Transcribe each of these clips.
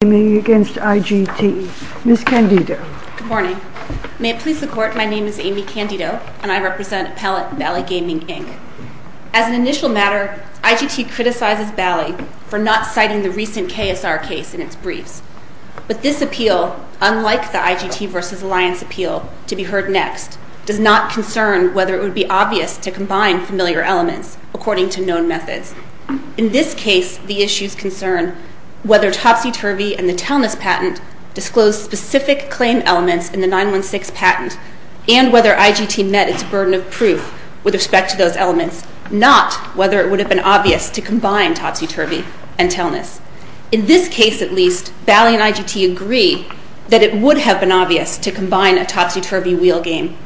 Good morning. May it please the Court, my name is Amy Candido and I represent Appellate Bally Gaming, Inc. As an initial matter, IGT criticizes Bally for not citing the recent KSR case in its briefs. But this appeal, unlike the IGT v. Alliance appeal to be heard next, does not concern whether it would be obvious to combine familiar elements according to Topsy-Turvy and the Telness patent disclose specific claim elements in the 916 patent and whether IGT met its burden of proof with respect to those elements, not whether it would have been obvious to combine Topsy-Turvy and Telness. In this case, at least, Bally and IGT agree that it would have been obvious to combine a Topsy-Turvy wheel game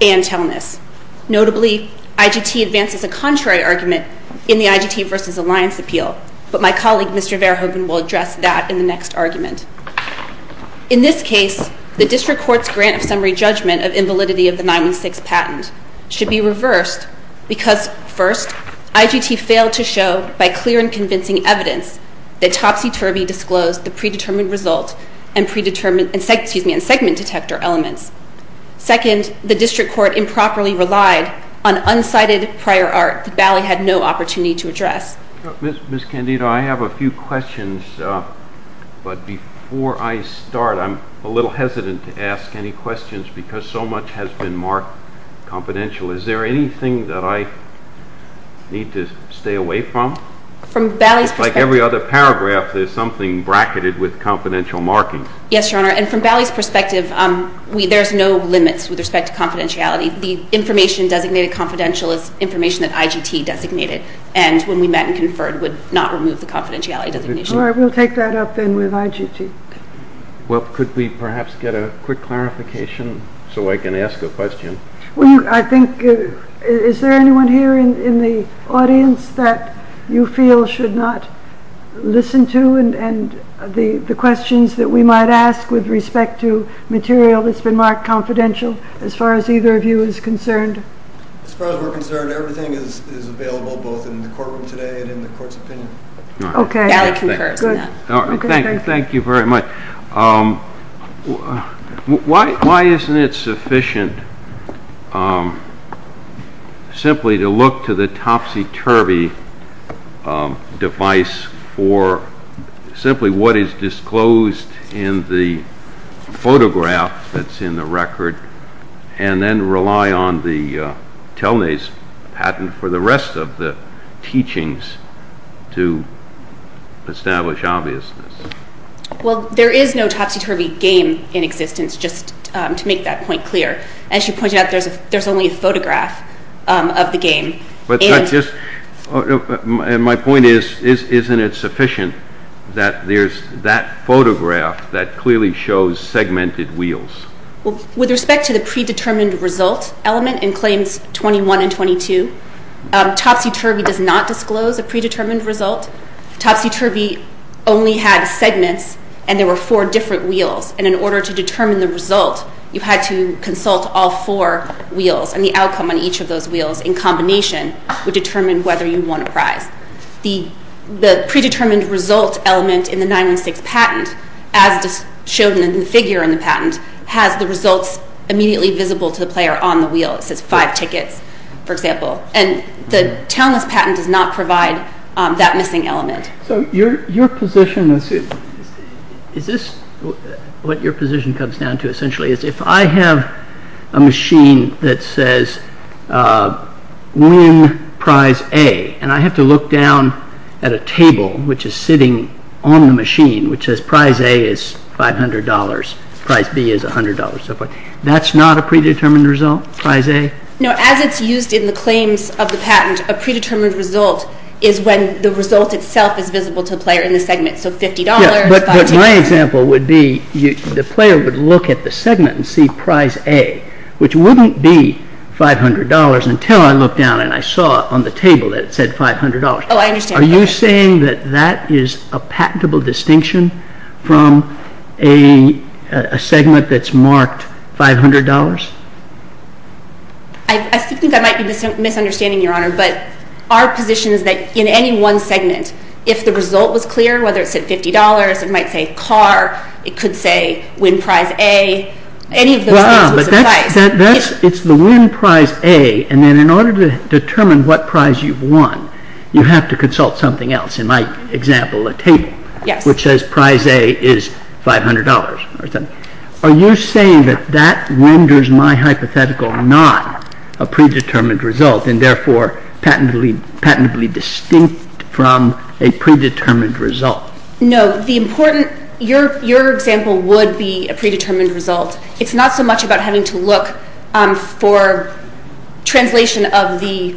and Telness. Notably, IGT advances a contrary argument in the IGT v. Alliance appeal, but my colleague Mr. Verhoeven will address that in the next argument. In this case, the district court's grant of summary judgment of invalidity of the 916 patent should be reversed because first, IGT failed to show by clear and convincing evidence that Topsy-Turvy disclosed the predetermined result and segment detector elements. Second, the district court improperly relied on unsighted prior art that Bally had no opportunity to address. MR. EBERSTADT. Ms. Candido, I have a few questions, but before I start, I'm a little hesitant to ask any questions because so much has been marked confidential. Is there anything that I need to stay away from? MS. CANDIDO. From Bally's perspective MR. EBERSTADT. Like every other paragraph, there's something bracketed with confidential markings. MS. CANDIDO. Yes, Your Honor, and from Bally's perspective, there's no limits with respect to confidentiality. The information designated confidential is information that IGT designated, and when we met and conferred would not remove the confidentiality designation. MR. EBERSTADT. All right, we'll take that up then with IGT. MR. EBERSTADT. Well, could we perhaps get a quick clarification so I can ask a question? MR. KAYE. Well, I think, is there anyone here in the audience that you feel should not listen to and the questions that we might ask with respect to material that's been marked confidential as far as either of you is concerned? MR. KAYE. As far as we're concerned, everything is available both in the courtroom today and in the court's opinion. MR. KAYE. All right. MS. CANDIDO. Bally concurs on that. MR. KAYE. All right, thank you. Thank you very much. Why isn't it sufficient simply to look to the topsy-turvy device for simply what is disclosed in the photograph that's in the record and then rely on the Telne's patent for the rest of the teachings to establish obviousness? MS. CANDIDO. Well, there is no topsy-turvy game in existence, just to make that point clear. As you pointed out, there's only a photograph of the game. MR. KAYE. My point is, isn't it sufficient that there's that photograph that clearly shows segmented wheels? MS. CANDIDO. Well, with respect to the predetermined result element in Claims 21 and 22, topsy-turvy does not disclose a predetermined result. Topsy-turvy only had segments and there were four different wheels. And in order to determine the result, you had to consult all four wheels and the outcome on each of those wheels in combination would determine whether you won a prize. The predetermined result element in the 916 patent, as shown in the figure in the patent, has the results immediately visible to the player on the wheel. It says five tickets, for example. And the Telne's patent does not provide that missing element. MR. KAYE. So your position, let's see, is this what your position comes down to essentially is if I have a machine that says win prize A and I have to look down at a table which is sitting on the machine which says prize A is $500, prize B is $100, that's not a predetermined result, prize A? MS. CANDIDO. No, as it's used in the claims of the patent, a predetermined result is when the result itself is visible to the player in the segment. So $50, five tickets. MR. KAYE. My example would be the player would look at the segment and see prize A, which wouldn't be $500 until I looked down and I saw on the table that it said $500. MS. CANDIDO. Oh, I understand. MR. KAYE. Are you saying that that is a patentable distinction from a segment that's marked $500? MS. CANDIDO. I think I might be misunderstanding, Your Honor, but our position is that in any one segment, if the result was clear, whether it said $50, it might say car, it could say win prize A, any of those things would suffice. MR. KAYE. It's the win prize A and then in order to determine what prize you've won, you have to consult something else. In my example, a table which says prize A is $500. Are you saying that that renders my hypothetical not a predetermined result and therefore patentably distinct from a predetermined result? MS. CANDIDO. No. Your example would be a predetermined result. It's not so much about having to look for translation of the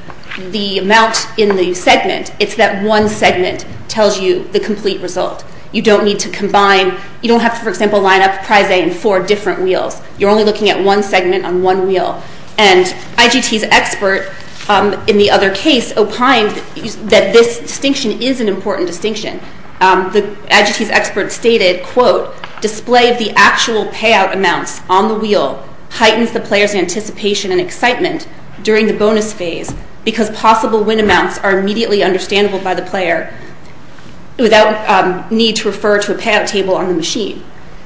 amount in the segment. It's that one segment tells you the complete result. You don't need to combine. You don't have to, for example, line up prize A in four different wheels. You're only looking at one segment on one wheel. And IGT's expert, in the other case, opined that this distinction is an important distinction. The IGT's expert stated, quote, display of the actual payout amounts on the wheel heightens the player's anticipation and excitement during the bonus phase because possible win amounts are immediately understandable by the player without need to refer to a payout table on the machine.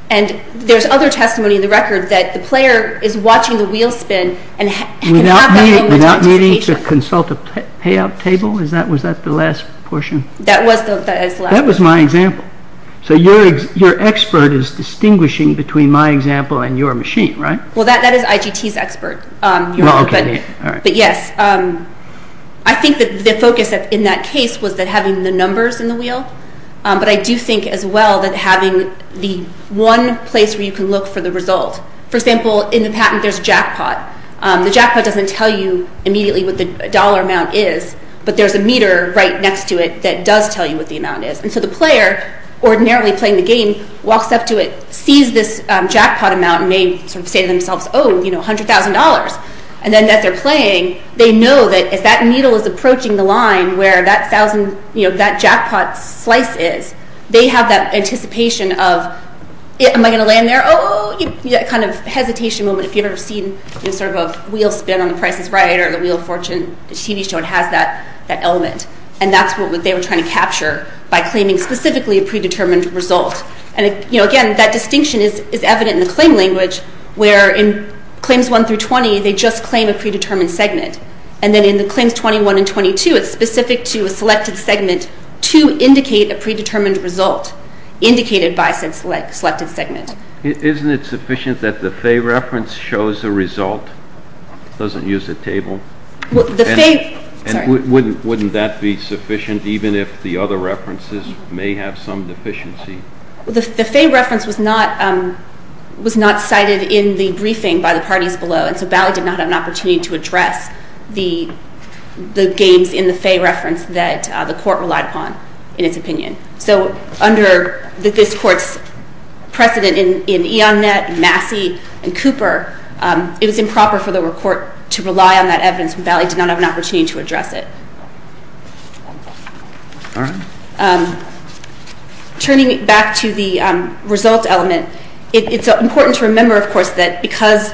And there's other testimony in the record that the player is watching the wheel spin and has that moment of anticipation. MR. KESSLER. Without needing to consult a payout table? Was that the last portion? MS. CANDIDO. That was the last. MR. KESSLER. That was my example. So your expert is distinguishing between my example and your machine, right? MS. CANDIDO. Well, that is IGT's expert. MR. KESSLER. Okay. All right. MS. CANDIDO. But yes, I think that the focus in that case was that having the numbers in the wheel, but I do think as well that having the one place where you can look for the result. For example, in the patent there's a jackpot. The jackpot doesn't tell you immediately what the dollar amount is, but there's a meter right next to it that does tell you what the amount is. And so the player, ordinarily playing the game, walks up to it, sees this jackpot amount and may sort of say to themselves, oh, you know, $100,000. And then as they're that needle is approaching the line where that jackpot slice is, they have that anticipation of, am I going to land there? Oh, that kind of hesitation moment if you've ever seen sort of a wheel spin on the Price is Right or the Wheel of Fortune TV show, it has that element. And that's what they were trying to capture by claiming specifically a predetermined result. And again, that distinction is evident in the claim language where in claims 1 through 20, they just claim a predetermined segment. And then in the claims 21 and 22, it's specific to a selected segment to indicate a predetermined result indicated by said selected segment. Isn't it sufficient that the Faye reference shows a result, doesn't use a table? The Faye, sorry. Wouldn't that be sufficient even if the other references may have some deficiency? The Faye reference was not cited in the briefing by the parties below. And so Bally did not have an opportunity to address the gains in the Faye reference that the court relied upon in its opinion. So under this court's precedent in E. Onnett, Massey, and Cooper, it was improper for the court to rely on that evidence. And Bally did not have an opportunity to address it. Turning back to the result element, it's important to remember, of course, that because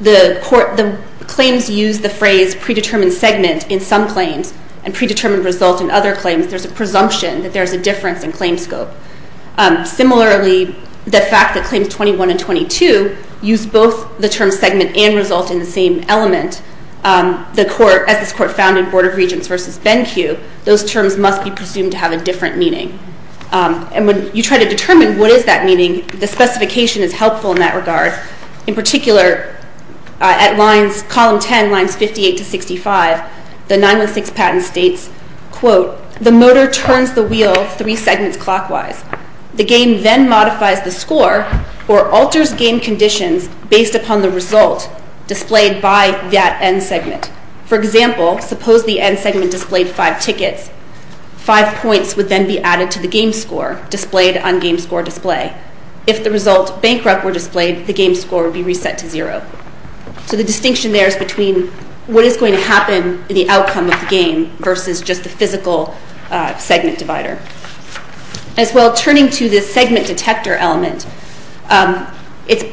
the claims use the phrase predetermined segment in some claims and predetermined result in other claims, there's a presumption that there's a difference in claim scope. Similarly, the fact that claims 21 and 22 use both the term segment and result in the same element, the court, as this court found in Board of Regents versus Ben Q, those terms must be presumed to have a different meaning. And when you try to determine what is that meaning, the specification is helpful in that regard. In particular, at lines, column 10, lines 58 to 65, the 916 patent states, quote, the motor turns the wheel three segments clockwise. The game then modifies the score or alters game conditions based upon the result, displayed by that end segment. For example, suppose the end segment displayed five tickets, five points would then be added to the game score displayed on game score display. If the result bankrupt were displayed, the game score would be reset to zero. So the distinction there is between what is going to happen in the outcome of the game versus just the physical segment divider. As well, turning to the segment detector element, it's,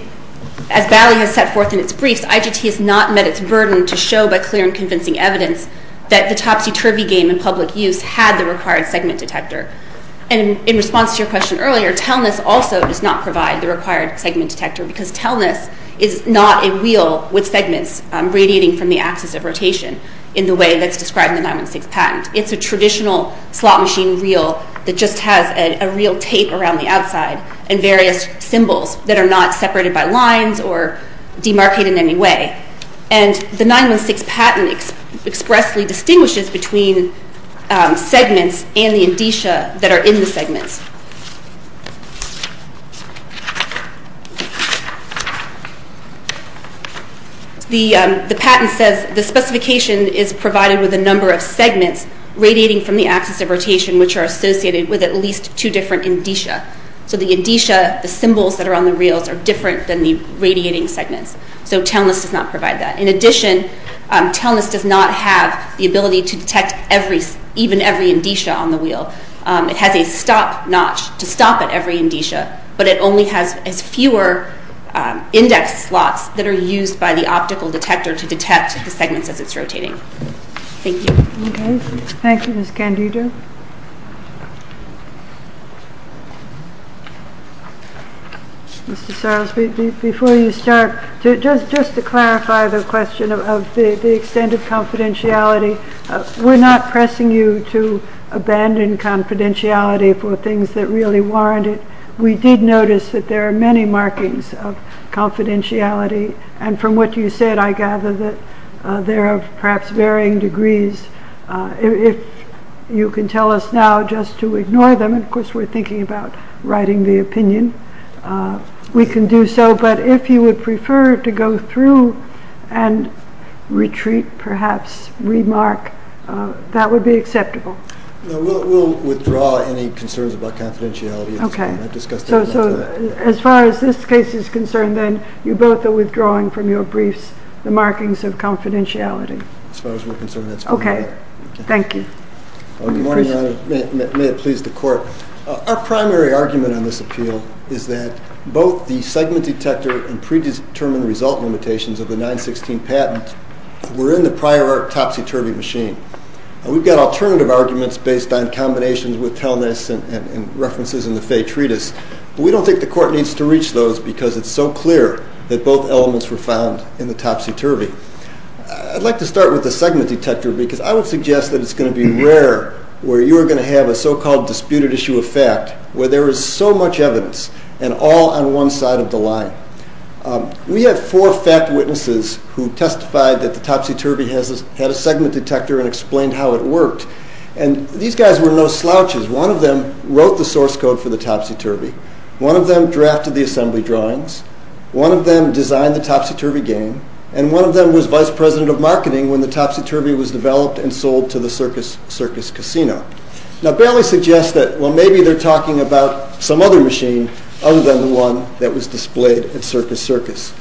as Bally has set forth in its briefs, IGT has not met its burden to show by clear and convincing evidence that the Topsy-Turvy game in public use had the required segment detector. And in response to your question earlier, tellness also does not provide the required segment detector, because tellness is not a wheel with segments radiating from the axis of rotation in the way that's described in the 916 patent. It's a traditional slot machine wheel that just has a real tape around the outside and various symbols that are not separated by lines or demarcated in any way. And the 916 patent expressly distinguishes between segments and the indicia that are in the segments. The patent says the specification is provided with a number of segments radiating from the axis of rotation, which are associated with at least two different indicia. So the indicia, the symbols that are on the reels are different than the radiating segments. So tellness does not provide that. In addition, tellness does not have the ability to detect even every indicia on the wheel. It has a stop notch to stop at every indicia, but it only has fewer index slots that are used by the optical detector to detect the segments as it's rotating. Thank you. Okay. Thank you, Ms. Candido. Mr. Sarles, before you start, just to clarify the question of the extended confidentiality, we're not pressing you to abandon confidentiality for things that really warrant it. We did notice that there are many markings of confidentiality. And from what you said, I gather that there are perhaps varying degrees. If you can tell us now just to ignore them, and of course, we're thinking about writing the opinion, we can do so. But if you would prefer to go through and retreat, perhaps remark, that would be acceptable. No, we'll withdraw any concerns about confidentiality. Okay. So as far as this case is concerned, then you both are withdrawing from your briefs the markings of confidentiality. As far as we're concerned, that's fine. Okay. Thank you. Good morning, Your Honor. May it please the Court. Our primary argument on this appeal is that both the segment detector and predetermined result limitations of the 916 patent were in the prior art topsy-turvy machine. We've got alternative arguments based on combinations with Telness and references in the Fay Treatise. We don't think the Court needs to reach those because it's so clear that both elements were found in the topsy-turvy. I'd like to start with the segment detector because I would suggest that it's going to be rare where you're going to have a so-called disputed issue of fact where there is so much evidence and all on one side of the line. We have four fact witnesses who testified that the topsy-turvy had a segment detector and explained how it worked. And these guys were no slouches. One of them wrote the source code for the topsy-turvy. One of them drafted the assembly drawings. One of them designed the topsy-turvy game. And one of them was vice president of marketing when the topsy-turvy was developed and sold to the Circus Circus Casino. Now, Bailey suggests that, well, maybe they're talking about some other machine other than the one that was displayed at Circus Circus.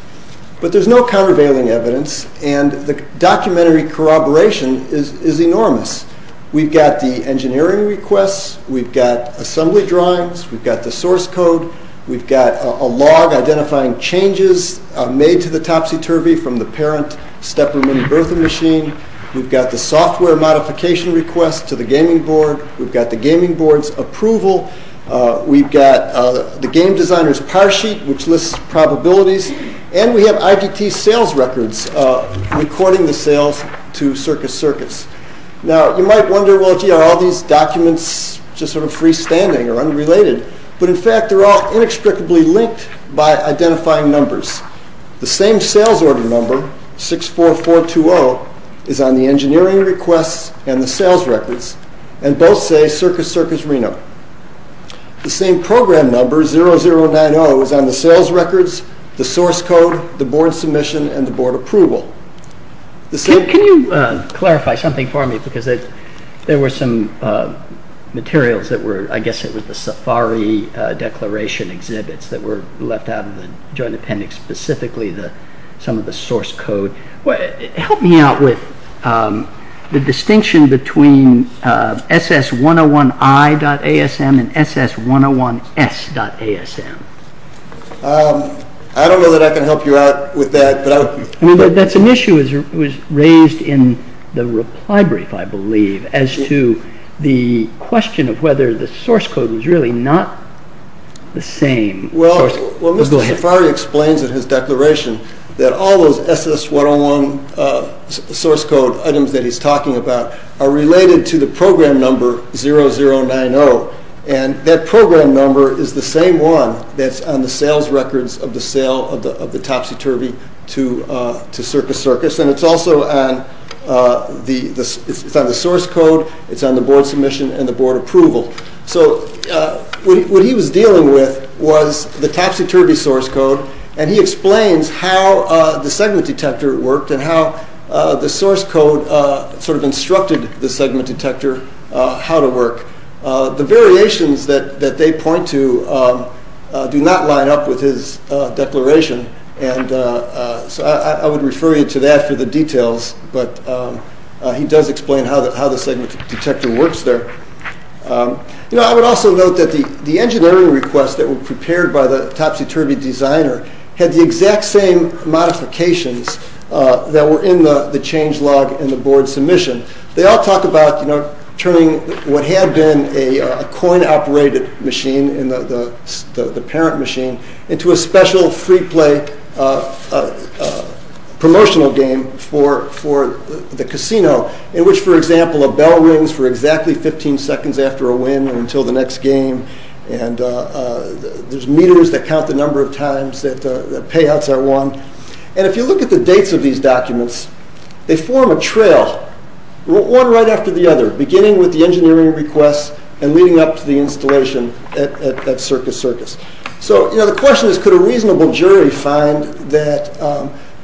But there's no countervailing evidence and the documentary corroboration is enormous. We've got the engineering requests. We've got assembly drawings. We've got the source code. We've got a log identifying changes made to the topsy-turvy from the parent Stepper mini Bertha machine. We've got the software modification request to the gaming board. We've got the gaming board's approval. We've got the game designer's power sheet which lists probabilities. And we have IDT sales records recording the sales to Circus Circus. Now, you might wonder, well, gee, are all these documents just sort of freestanding or unrelated? But in fact, they're all inextricably linked by identifying numbers. The same sales order number, 64420, is on the engineering requests and the sales records, and both say Circus Circus Reno. The same program number, 0090, is on the sales records, the source code, the board submission, and the board approval. Can you clarify something for me because there were some materials that were, I guess it was the safari declaration exhibits that were left out of the joint appendix, specifically some of the source code. Help me out with the distinction between SS101I.ASM and SS101S.ASM. I don't know that I can help you out with that. I mean, that's an issue that was raised in the reply brief, I believe, as to the question of whether the source code was really not the same. Well, Mr. Safari explains in his declaration that all those SS101 source code items that he's talking about are related to the program number 0090. And that program number is the same one that's on the sales records of the sale of the topsy-turvy to Circus Circus. And it's also on the source code, it's on the board submission, and the board approval. So what he was dealing with was the topsy-turvy source code, and he explains how the segment detector worked and how the source code sort of instructed the segment detector how to work. The variations that they point to do not line up with his declaration, and so I would refer you to that for the details, but he does explain how the segment detector works there. You know, I would also note that the engineering requests that were prepared by the topsy-turvy designer had the exact same modifications that were in the change log and the board submission. They all talk about, you know, turning what had been a coin-operated machine, the parent machine, into a special free play promotional game for the casino in which, for example, a bell rings for exactly 15 seconds after a win until the next game, and there's meters that count the number of times that payouts are won. And if you look at the dates of these documents, they form a trail, one right after the other, beginning with the engineering requests and leading up to the installation at Circus Circus. So, you know, the question is could a reasonable jury find that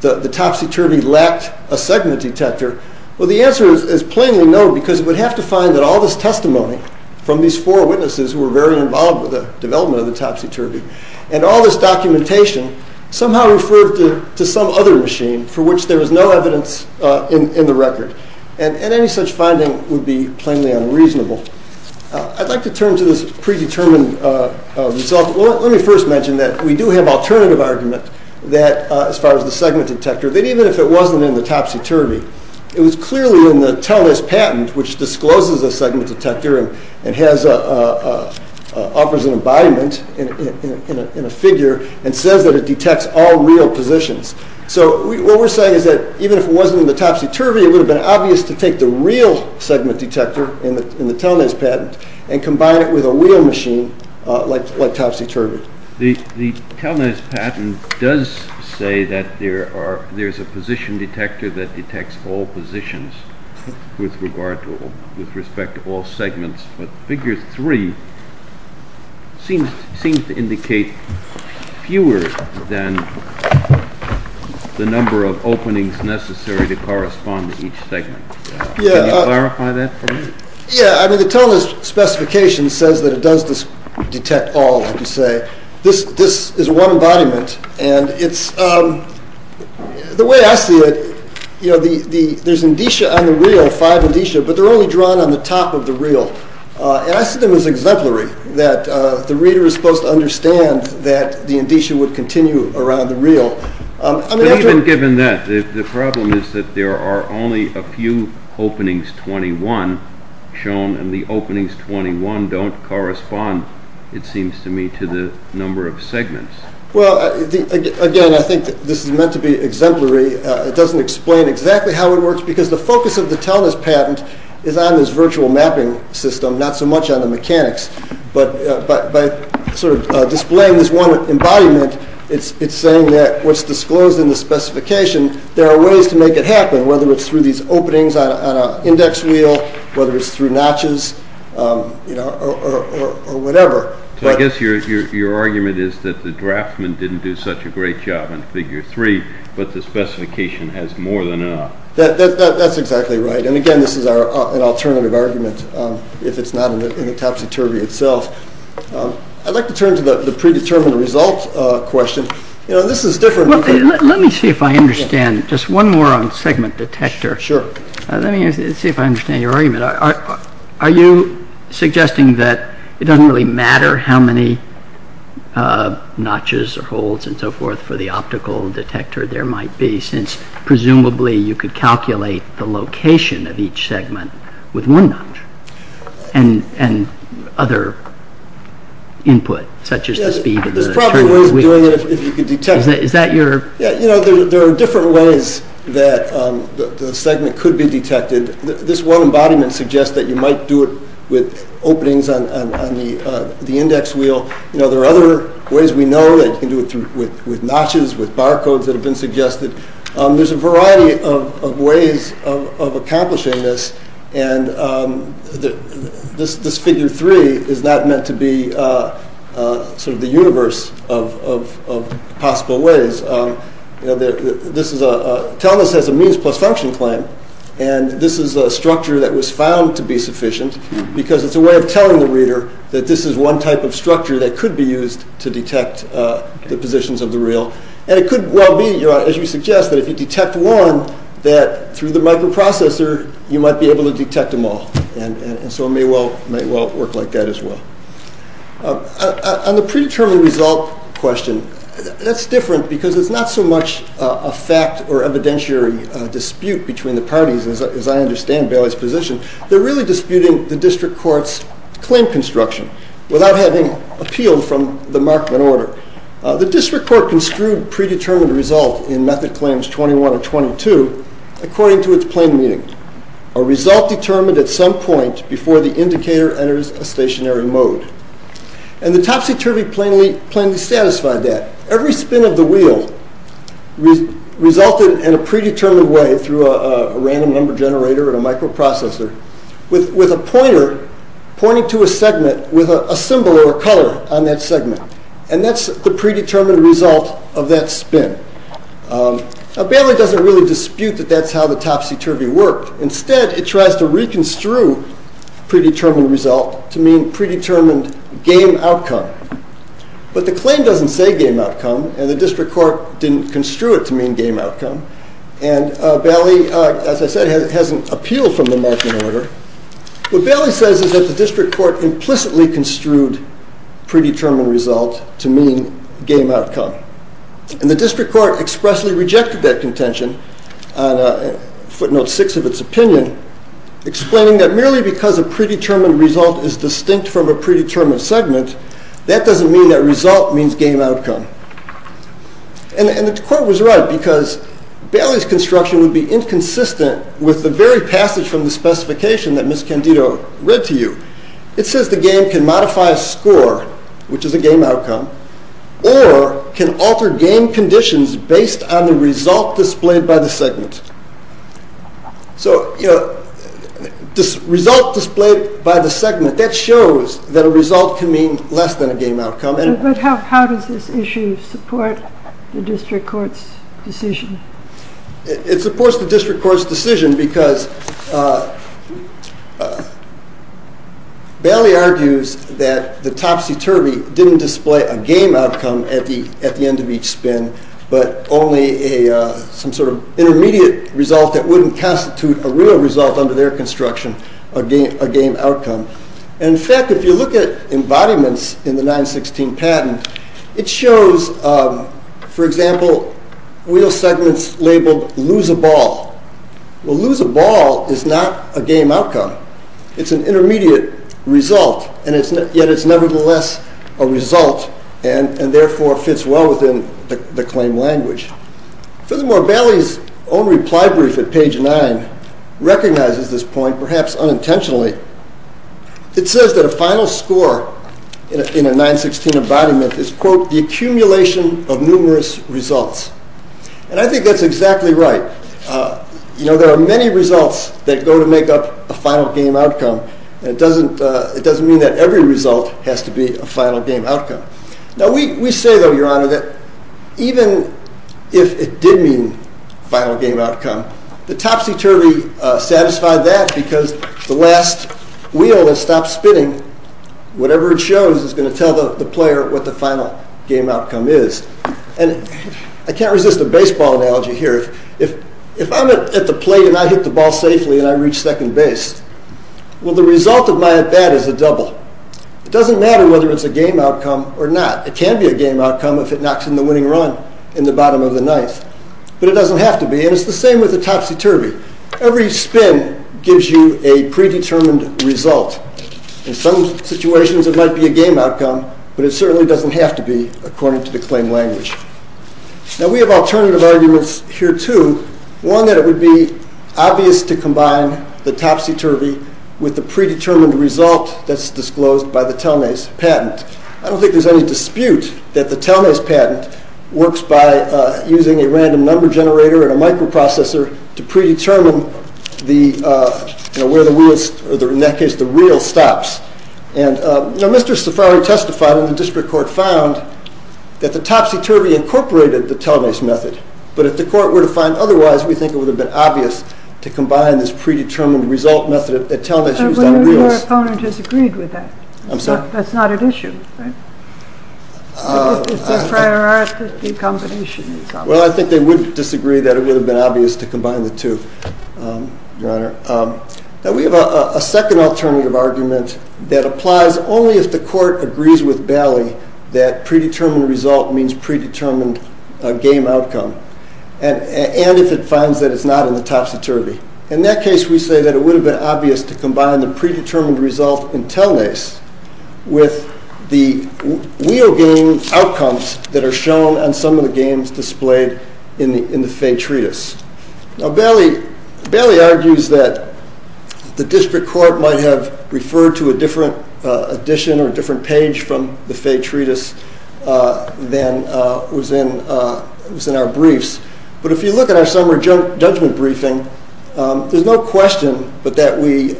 the topsy-turvy lacked a segment detector? Well, the answer is plainly no because it would have to find that all this testimony from these four witnesses who were very involved with the development of the topsy-turvy and all this documentation somehow referred to some other machine for which there is no evidence in the record. And any such finding would be plainly unreasonable. I'd like to turn to this predetermined result. Let me first mention that we do have alternative argument that, as far as the segment detector, that even if it wasn't in the topsy-turvy, it was clearly in the TELNIS patent which discloses a segment detector and has, offers an embodiment in a figure and says that it detects all real positions. So what we're saying is that even if it wasn't in the topsy-turvy it would have been obvious to take the real segment detector in the TELNIS patent and combine it with a real machine like topsy-turvy. The TELNIS patent does say that there are, there's a position detector that detects all positions with regard to all segments, but figure three seems to indicate fewer than the number of openings necessary to correspond to each segment. Can you clarify that for me? Yeah, I mean the TELNIS specification says that it does detect all, I should say. This is one embodiment and it's, the way I see it, you know, there's indicia on the real, five indicia, but they're only drawn on the top of the real. And I see them as exemplary, that the reader is supposed to understand that the indicia would continue around the real. I mean after- But even given that, the problem is that there are only a few openings 21 shown and the openings 21 don't correspond, it seems to me, to the number of segments. Well, again, I think this is meant to be exemplary. It doesn't explain exactly how it works because the focus of the TELNIS patent is on this virtual mapping system, not so much on the mechanics. But by sort of displaying this one embodiment, it's saying that what's disclosed in the specification, there are ways to make it happen, whether it's through these openings on an index wheel, whether it's through notches, you know, or whatever. So I guess your argument is that the draftman didn't do that because the specification has more than enough. That's exactly right. And again, this is an alternative argument if it's not in the topsy-turvy itself. I'd like to turn to the predetermined result question. You know, this is different. Let me see if I understand. Just one more on segment detector. Sure. Let me see if I understand your argument. Are you suggesting that it doesn't really matter how many notches or holes and so forth for the optical detector there might be since presumably you could calculate the location of each segment with one notch and other input such as the speed of the turn of the wheel? Yes. There's probably ways of doing it if you could detect it. Yeah. You know, there are different ways that the segment could be detected. This one embodiment suggests that you might do it with openings on the index wheel. You know, there are other ways we know that you can do it with notches, with barcodes that have been suggested. There's a variety of ways of accomplishing this. And this figure three is not meant to be sort of the universe of possible ways. You know, this is a, TELNUS has a means plus function claim. And this is a structure that was found to be sufficient because it's a way of telling the reader that this is one type of structure that could be used to detect the positions of the reel. And it could well be, as you suggest, that if you detect one that through the microprocessor you might be able to detect them all. And so it may well work like that as well. On the predetermined result question, that's different because it's not so much a fact or evidentiary dispute between the parties as I understand Bailey's position. They're really disputing the district court's claim construction without having appealed from the Markman order. The district court construed predetermined result in method claims 21 and 22 according to its plain meaning. A result determined at some point before the indicator enters a stationary mode. And the topsy-turvy plainly satisfied that. Every spin of the wheel resulted in a predetermined way through a random number generator and a microprocessor with a pointer pointing to a segment with a symbol or a color on that segment. And that's the predetermined result of that spin. Bailey doesn't really dispute that that's how the topsy-turvy worked. Instead, it tries to reconstrue predetermined result to mean predetermined game outcome. But the claim doesn't say game outcome and the district court didn't construe it to mean game outcome. And Bailey, as I said, has an appeal from the Markman order. What Bailey says is that the district court implicitly construed predetermined result to mean game outcome. And the district court expressly rejected that contention on footnote six of its opinion, explaining that merely because a predetermined result is distinct from a predetermined segment, that doesn't mean that result means game outcome. And the court was right because Bailey's construction would be inconsistent with the very passage from the specification that Ms. Candido read to you. It says the game can modify a score, which is a game outcome, or can alter game conditions based on the result displayed by the segment. So, you know, this result displayed by the segment, that shows that a result can mean less than a game outcome. But how does this issue support the district court's decision? It supports the district court's decision because Bailey argues that the topsy-turvy didn't display a game outcome at the end of each spin, but only some sort of intermediate result that wouldn't constitute a real result under their construction, a game outcome. In fact, if you look at embodiments in the 916 patent, it shows, for example, wheel segments labeled lose a ball. Well, lose a ball is not a game outcome. It's an intermediate result, and yet it's nevertheless a result, and therefore fits well within the claim language. Furthermore, Bailey's own reply brief at page nine recognizes this point, perhaps unintentionally. It says that a final score in a 916 embodiment is, quote, the accumulation of numerous results. And I think that's exactly right. You know, there are many results that go to make up a final game outcome, and it doesn't mean that every result has to be a final game outcome. Now, we say, though, Your Honor, that even if it did mean final game outcome, the topsy-turvy satisfied that because the last wheel that stopped spinning, whatever it shows is gonna tell the player what the final game outcome is. And I can't resist a baseball analogy here. If I'm at the plate and I hit the ball safely and I reach second base, well, the result of my at-bat is a double. It doesn't matter whether it's a game outcome or not. It can be a game outcome if it knocks in the winning run in the bottom of the ninth, but it doesn't have to be, and it's the same with the topsy-turvy. Every spin gives you a predetermined result. In some situations, it might be a game outcome, but it certainly doesn't have to be according to the claim language. Now, we have alternative arguments here, too, one that it would be obvious to combine the topsy-turvy with the predetermined result that's disclosed by the Telmase patent. I don't think there's any dispute that the Telmase patent works by using a random number generator and a microprocessor to predetermine where the wheels, or in that case, the reel stops. And Mr. Safaree testified when the district court found that the topsy-turvy incorporated the Telmase method, but if the court were to find otherwise, we think it would have been obvious to combine this predetermined result method that Telmase used on the wheels. But your opponent has agreed with that. I'm sorry? That's not an issue, right? It's a prior art that the combination is obvious. Well, I think they would disagree that it would have been obvious to combine the two, Your Honor. Now, we have a second alternative argument that applies only if the court agrees with Bally that predetermined result means predetermined game outcome, and if it finds that it's not in the topsy-turvy. In that case, we say that it would have been obvious to combine the predetermined result in Telmase with the wheel game outcomes that are shown on some of the games displayed in the Faye Treatise. Now, Bally argues that the district court might have referred to a different edition or a different page from the Faye Treatise than was in our briefs, but if you look at our summer judgment briefing, there's no question but that we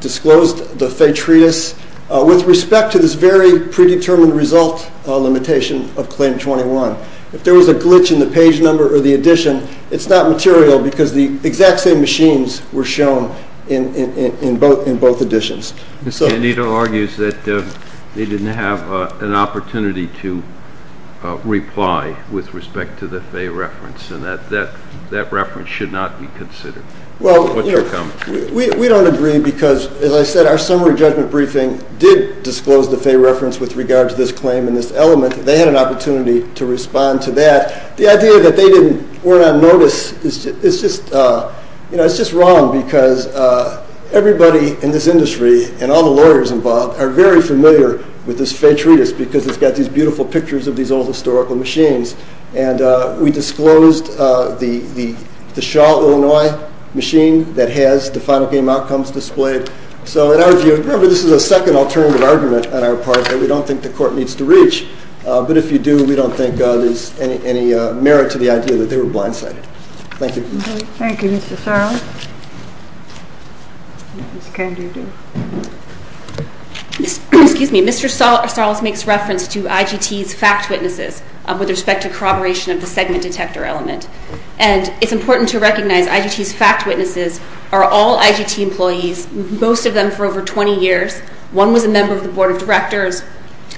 disclosed the Faye Treatise with respect to this very predetermined result limitation of claim 21. If there was a glitch in the page number or the edition, it's not material because the exact same machines were shown in both editions. Ms. Candido argues that they didn't have an opportunity to reply with respect to the Faye reference and that that reference should not be considered. Well, we don't agree because, as I said, our summary judgment briefing did disclose the Faye reference with regard to this claim and this element. They had an opportunity to respond to that. The idea that they weren't on notice, it's just wrong because everybody in this industry and all the lawyers involved are very familiar with this Faye Treatise because it's got these beautiful pictures of these old historical machines and we disclosed the Shaw, Illinois machine that has the final game outcomes displayed. So in our view, remember this is a second alternative argument on our part that we don't think the court needs to reach. But if you do, we don't think there's any merit to the idea that they were blindsided. Thank you. Thank you, Mr. Sarles. Ms. Candido. Excuse me, Mr. Sarles makes reference to IGT's fact witnesses with respect to corroboration of the segment detector element. And it's important to recognize IGT's fact witnesses are all IGT employees, most of them for over 20 years. One was a member of the board of directors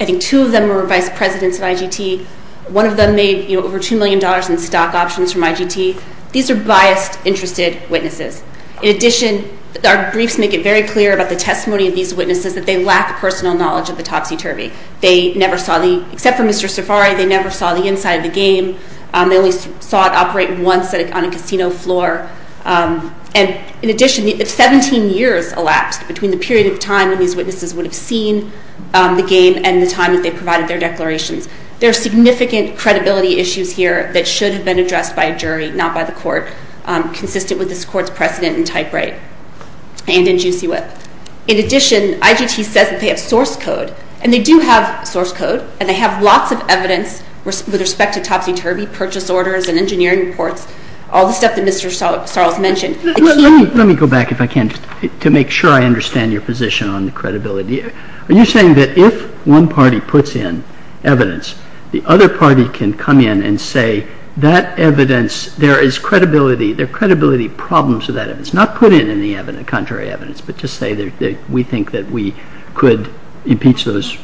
I think two of them were vice presidents of IGT. One of them made over $2 million in stock options from IGT. These are biased, interested witnesses. In addition, our briefs make it very clear about the testimony of these witnesses that they lack personal knowledge of the Topsy-Turvy. They never saw the, except for Mr. Safari, they never saw the inside of the game. They only saw it operate once on a casino floor. And in addition, 17 years elapsed between the period of time when these witnesses would have seen the game and the time that they provided their declarations. There are significant credibility issues here that should have been addressed by a jury, not by the court, consistent with this court's precedent in typewrite and in juicy whip. In addition, IGT says that they have source code and they do have source code and they have lots of evidence with respect to Topsy-Turvy purchase orders and engineering reports, all the stuff that Mr. Sarles mentioned. Let me go back if I can, to make sure I understand your position on the credibility. Are you saying that if one party puts in evidence, the other party can come in and say that evidence, there is credibility, there are credibility problems with that evidence, not put in any evidence, contrary evidence, but just say that we think that we could impeach those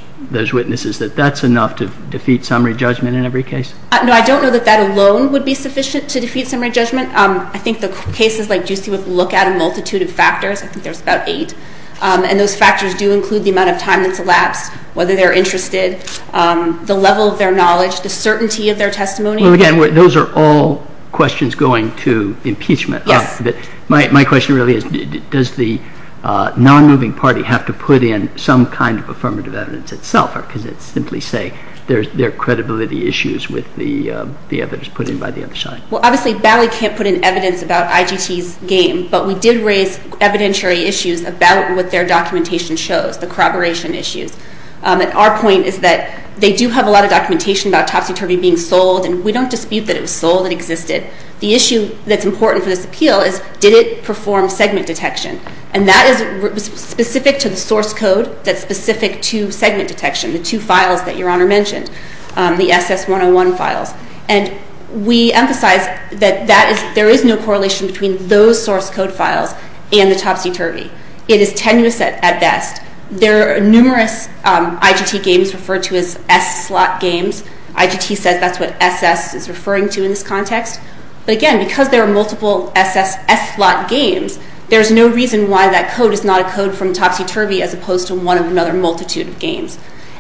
witnesses, that that's enough to defeat summary judgment in every case? No, I don't know that that alone would be sufficient to defeat summary judgment. I think the cases like juicy whip look at a multitude of factors. I think there's about eight. And those factors do include the amount of time that's elapsed, whether they're interested, the level of their knowledge, the certainty of their testimony. Well, again, those are all questions going to impeachment. Yes. But my question really is, does the non-moving party have to put in some kind of affirmative evidence itself or could it simply say there are credibility issues with the evidence put in by the other side? Well, obviously, Bally can't put in evidence about IGT's game, but we did raise evidentiary issues about what their documentation shows, the corroboration issues. And our point is that they do have a lot of documentation about Topsy-Turvy being sold and we don't dispute that it was sold, it existed. The issue that's important for this appeal is did it perform segment detection? And that is specific to the source code that's specific to segment detection, the two files that Your Honor mentioned, the SS-101 files. And we emphasize that there is no correlation between those source code files and the Topsy-Turvy. It is tenuous at best. There are numerous IGT games referred to as S-slot games. IGT says that's what SS is referring to in this context. But again, because there are multiple SS S-slot games, there's no reason why that code is not a code from Topsy-Turvy as opposed to one of another multitude of games.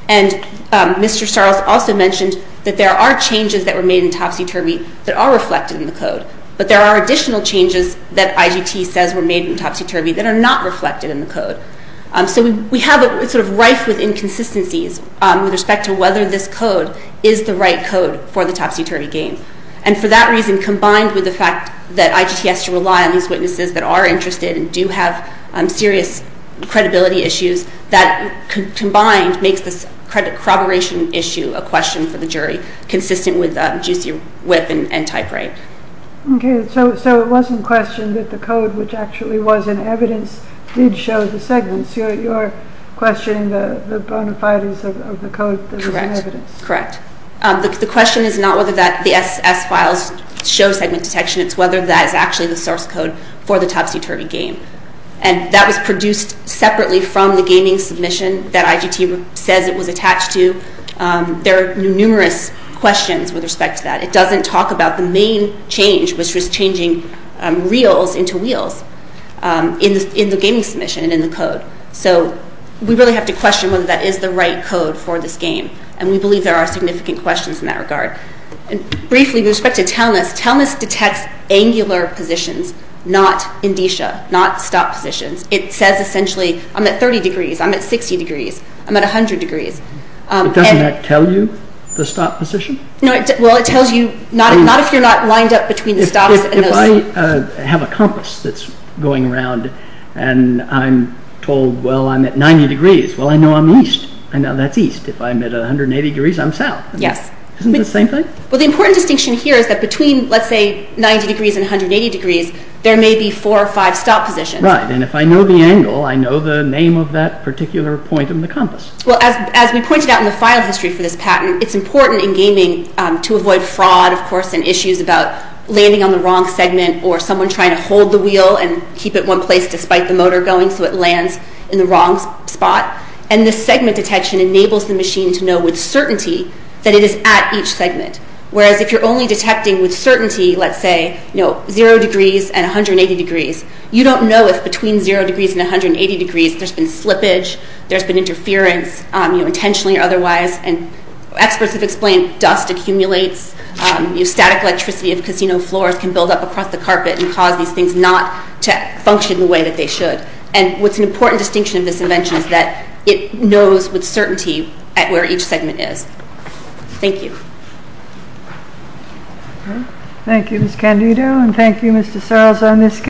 And Mr. Starles also mentioned that there are changes that were made in Topsy-Turvy that are reflected in the code, but there are additional changes that IGT says were made in Topsy-Turvy that are not reflected in the code. So we have a sort of rife with inconsistencies with respect to whether this code is the right code for the Topsy-Turvy game. And for that reason, combined with the fact that IGT has to rely on these witnesses that are interested and do have serious credibility issues, that combined makes this corroboration issue a question for the jury, consistent with juicy whip and type right. Okay, so it wasn't questioned that the code, which actually was an evidence, did show the segments. You're questioning the bonafides of the code that was an evidence. Correct. The question is not whether the SS files show segment detection, it's whether that is actually the source code for the Topsy-Turvy game. And that was produced separately from the gaming submission that IGT says it was attached to. There are numerous questions with respect to that. It doesn't talk about the main change, which was changing reels into wheels in the gaming submission and in the code. So we really have to question whether that is the right code for this game. And we believe there are significant questions in that regard. And briefly, with respect to Telmis, Telmis detects angular positions, not indicia, not stop positions. It says essentially, I'm at 30 degrees, I'm at 60 degrees, I'm at 100 degrees. Doesn't that tell you the stop position? Well, it tells you, not if you're not lined up between the stops. If I have a compass that's going around and I'm told, well, I'm at 90 degrees, well, I know I'm east. I know that's east. If I'm at 180 degrees, I'm south. Yes. Isn't it the same thing? Well, the important distinction here is that between, let's say, 90 degrees and 180 degrees, there may be four or five stop positions. Right, and if I know the angle, I know the name of that particular point in the compass. Well, as we pointed out in the file history for this patent, it's important in gaming to avoid fraud, of course, and issues about landing on the wrong segment or someone trying to hold the wheel and keep it in one place despite the motor going so it lands in the wrong spot. And this segment detection enables the machine to know with certainty that it is at each segment. Whereas if you're only detecting with certainty, let's say, zero degrees and 180 degrees, you don't know if between zero degrees and 180 degrees, there's been slippage, there's been interference, intentionally or otherwise. And experts have explained dust accumulates. Static electricity of casino floors can build up across the carpet and cause these things not to function the way that they should. And what's an important distinction of this invention is that it knows with certainty where each segment is. Thank you. Thank you, Ms. Candido, and thank you, Mr. Sarles, on this case.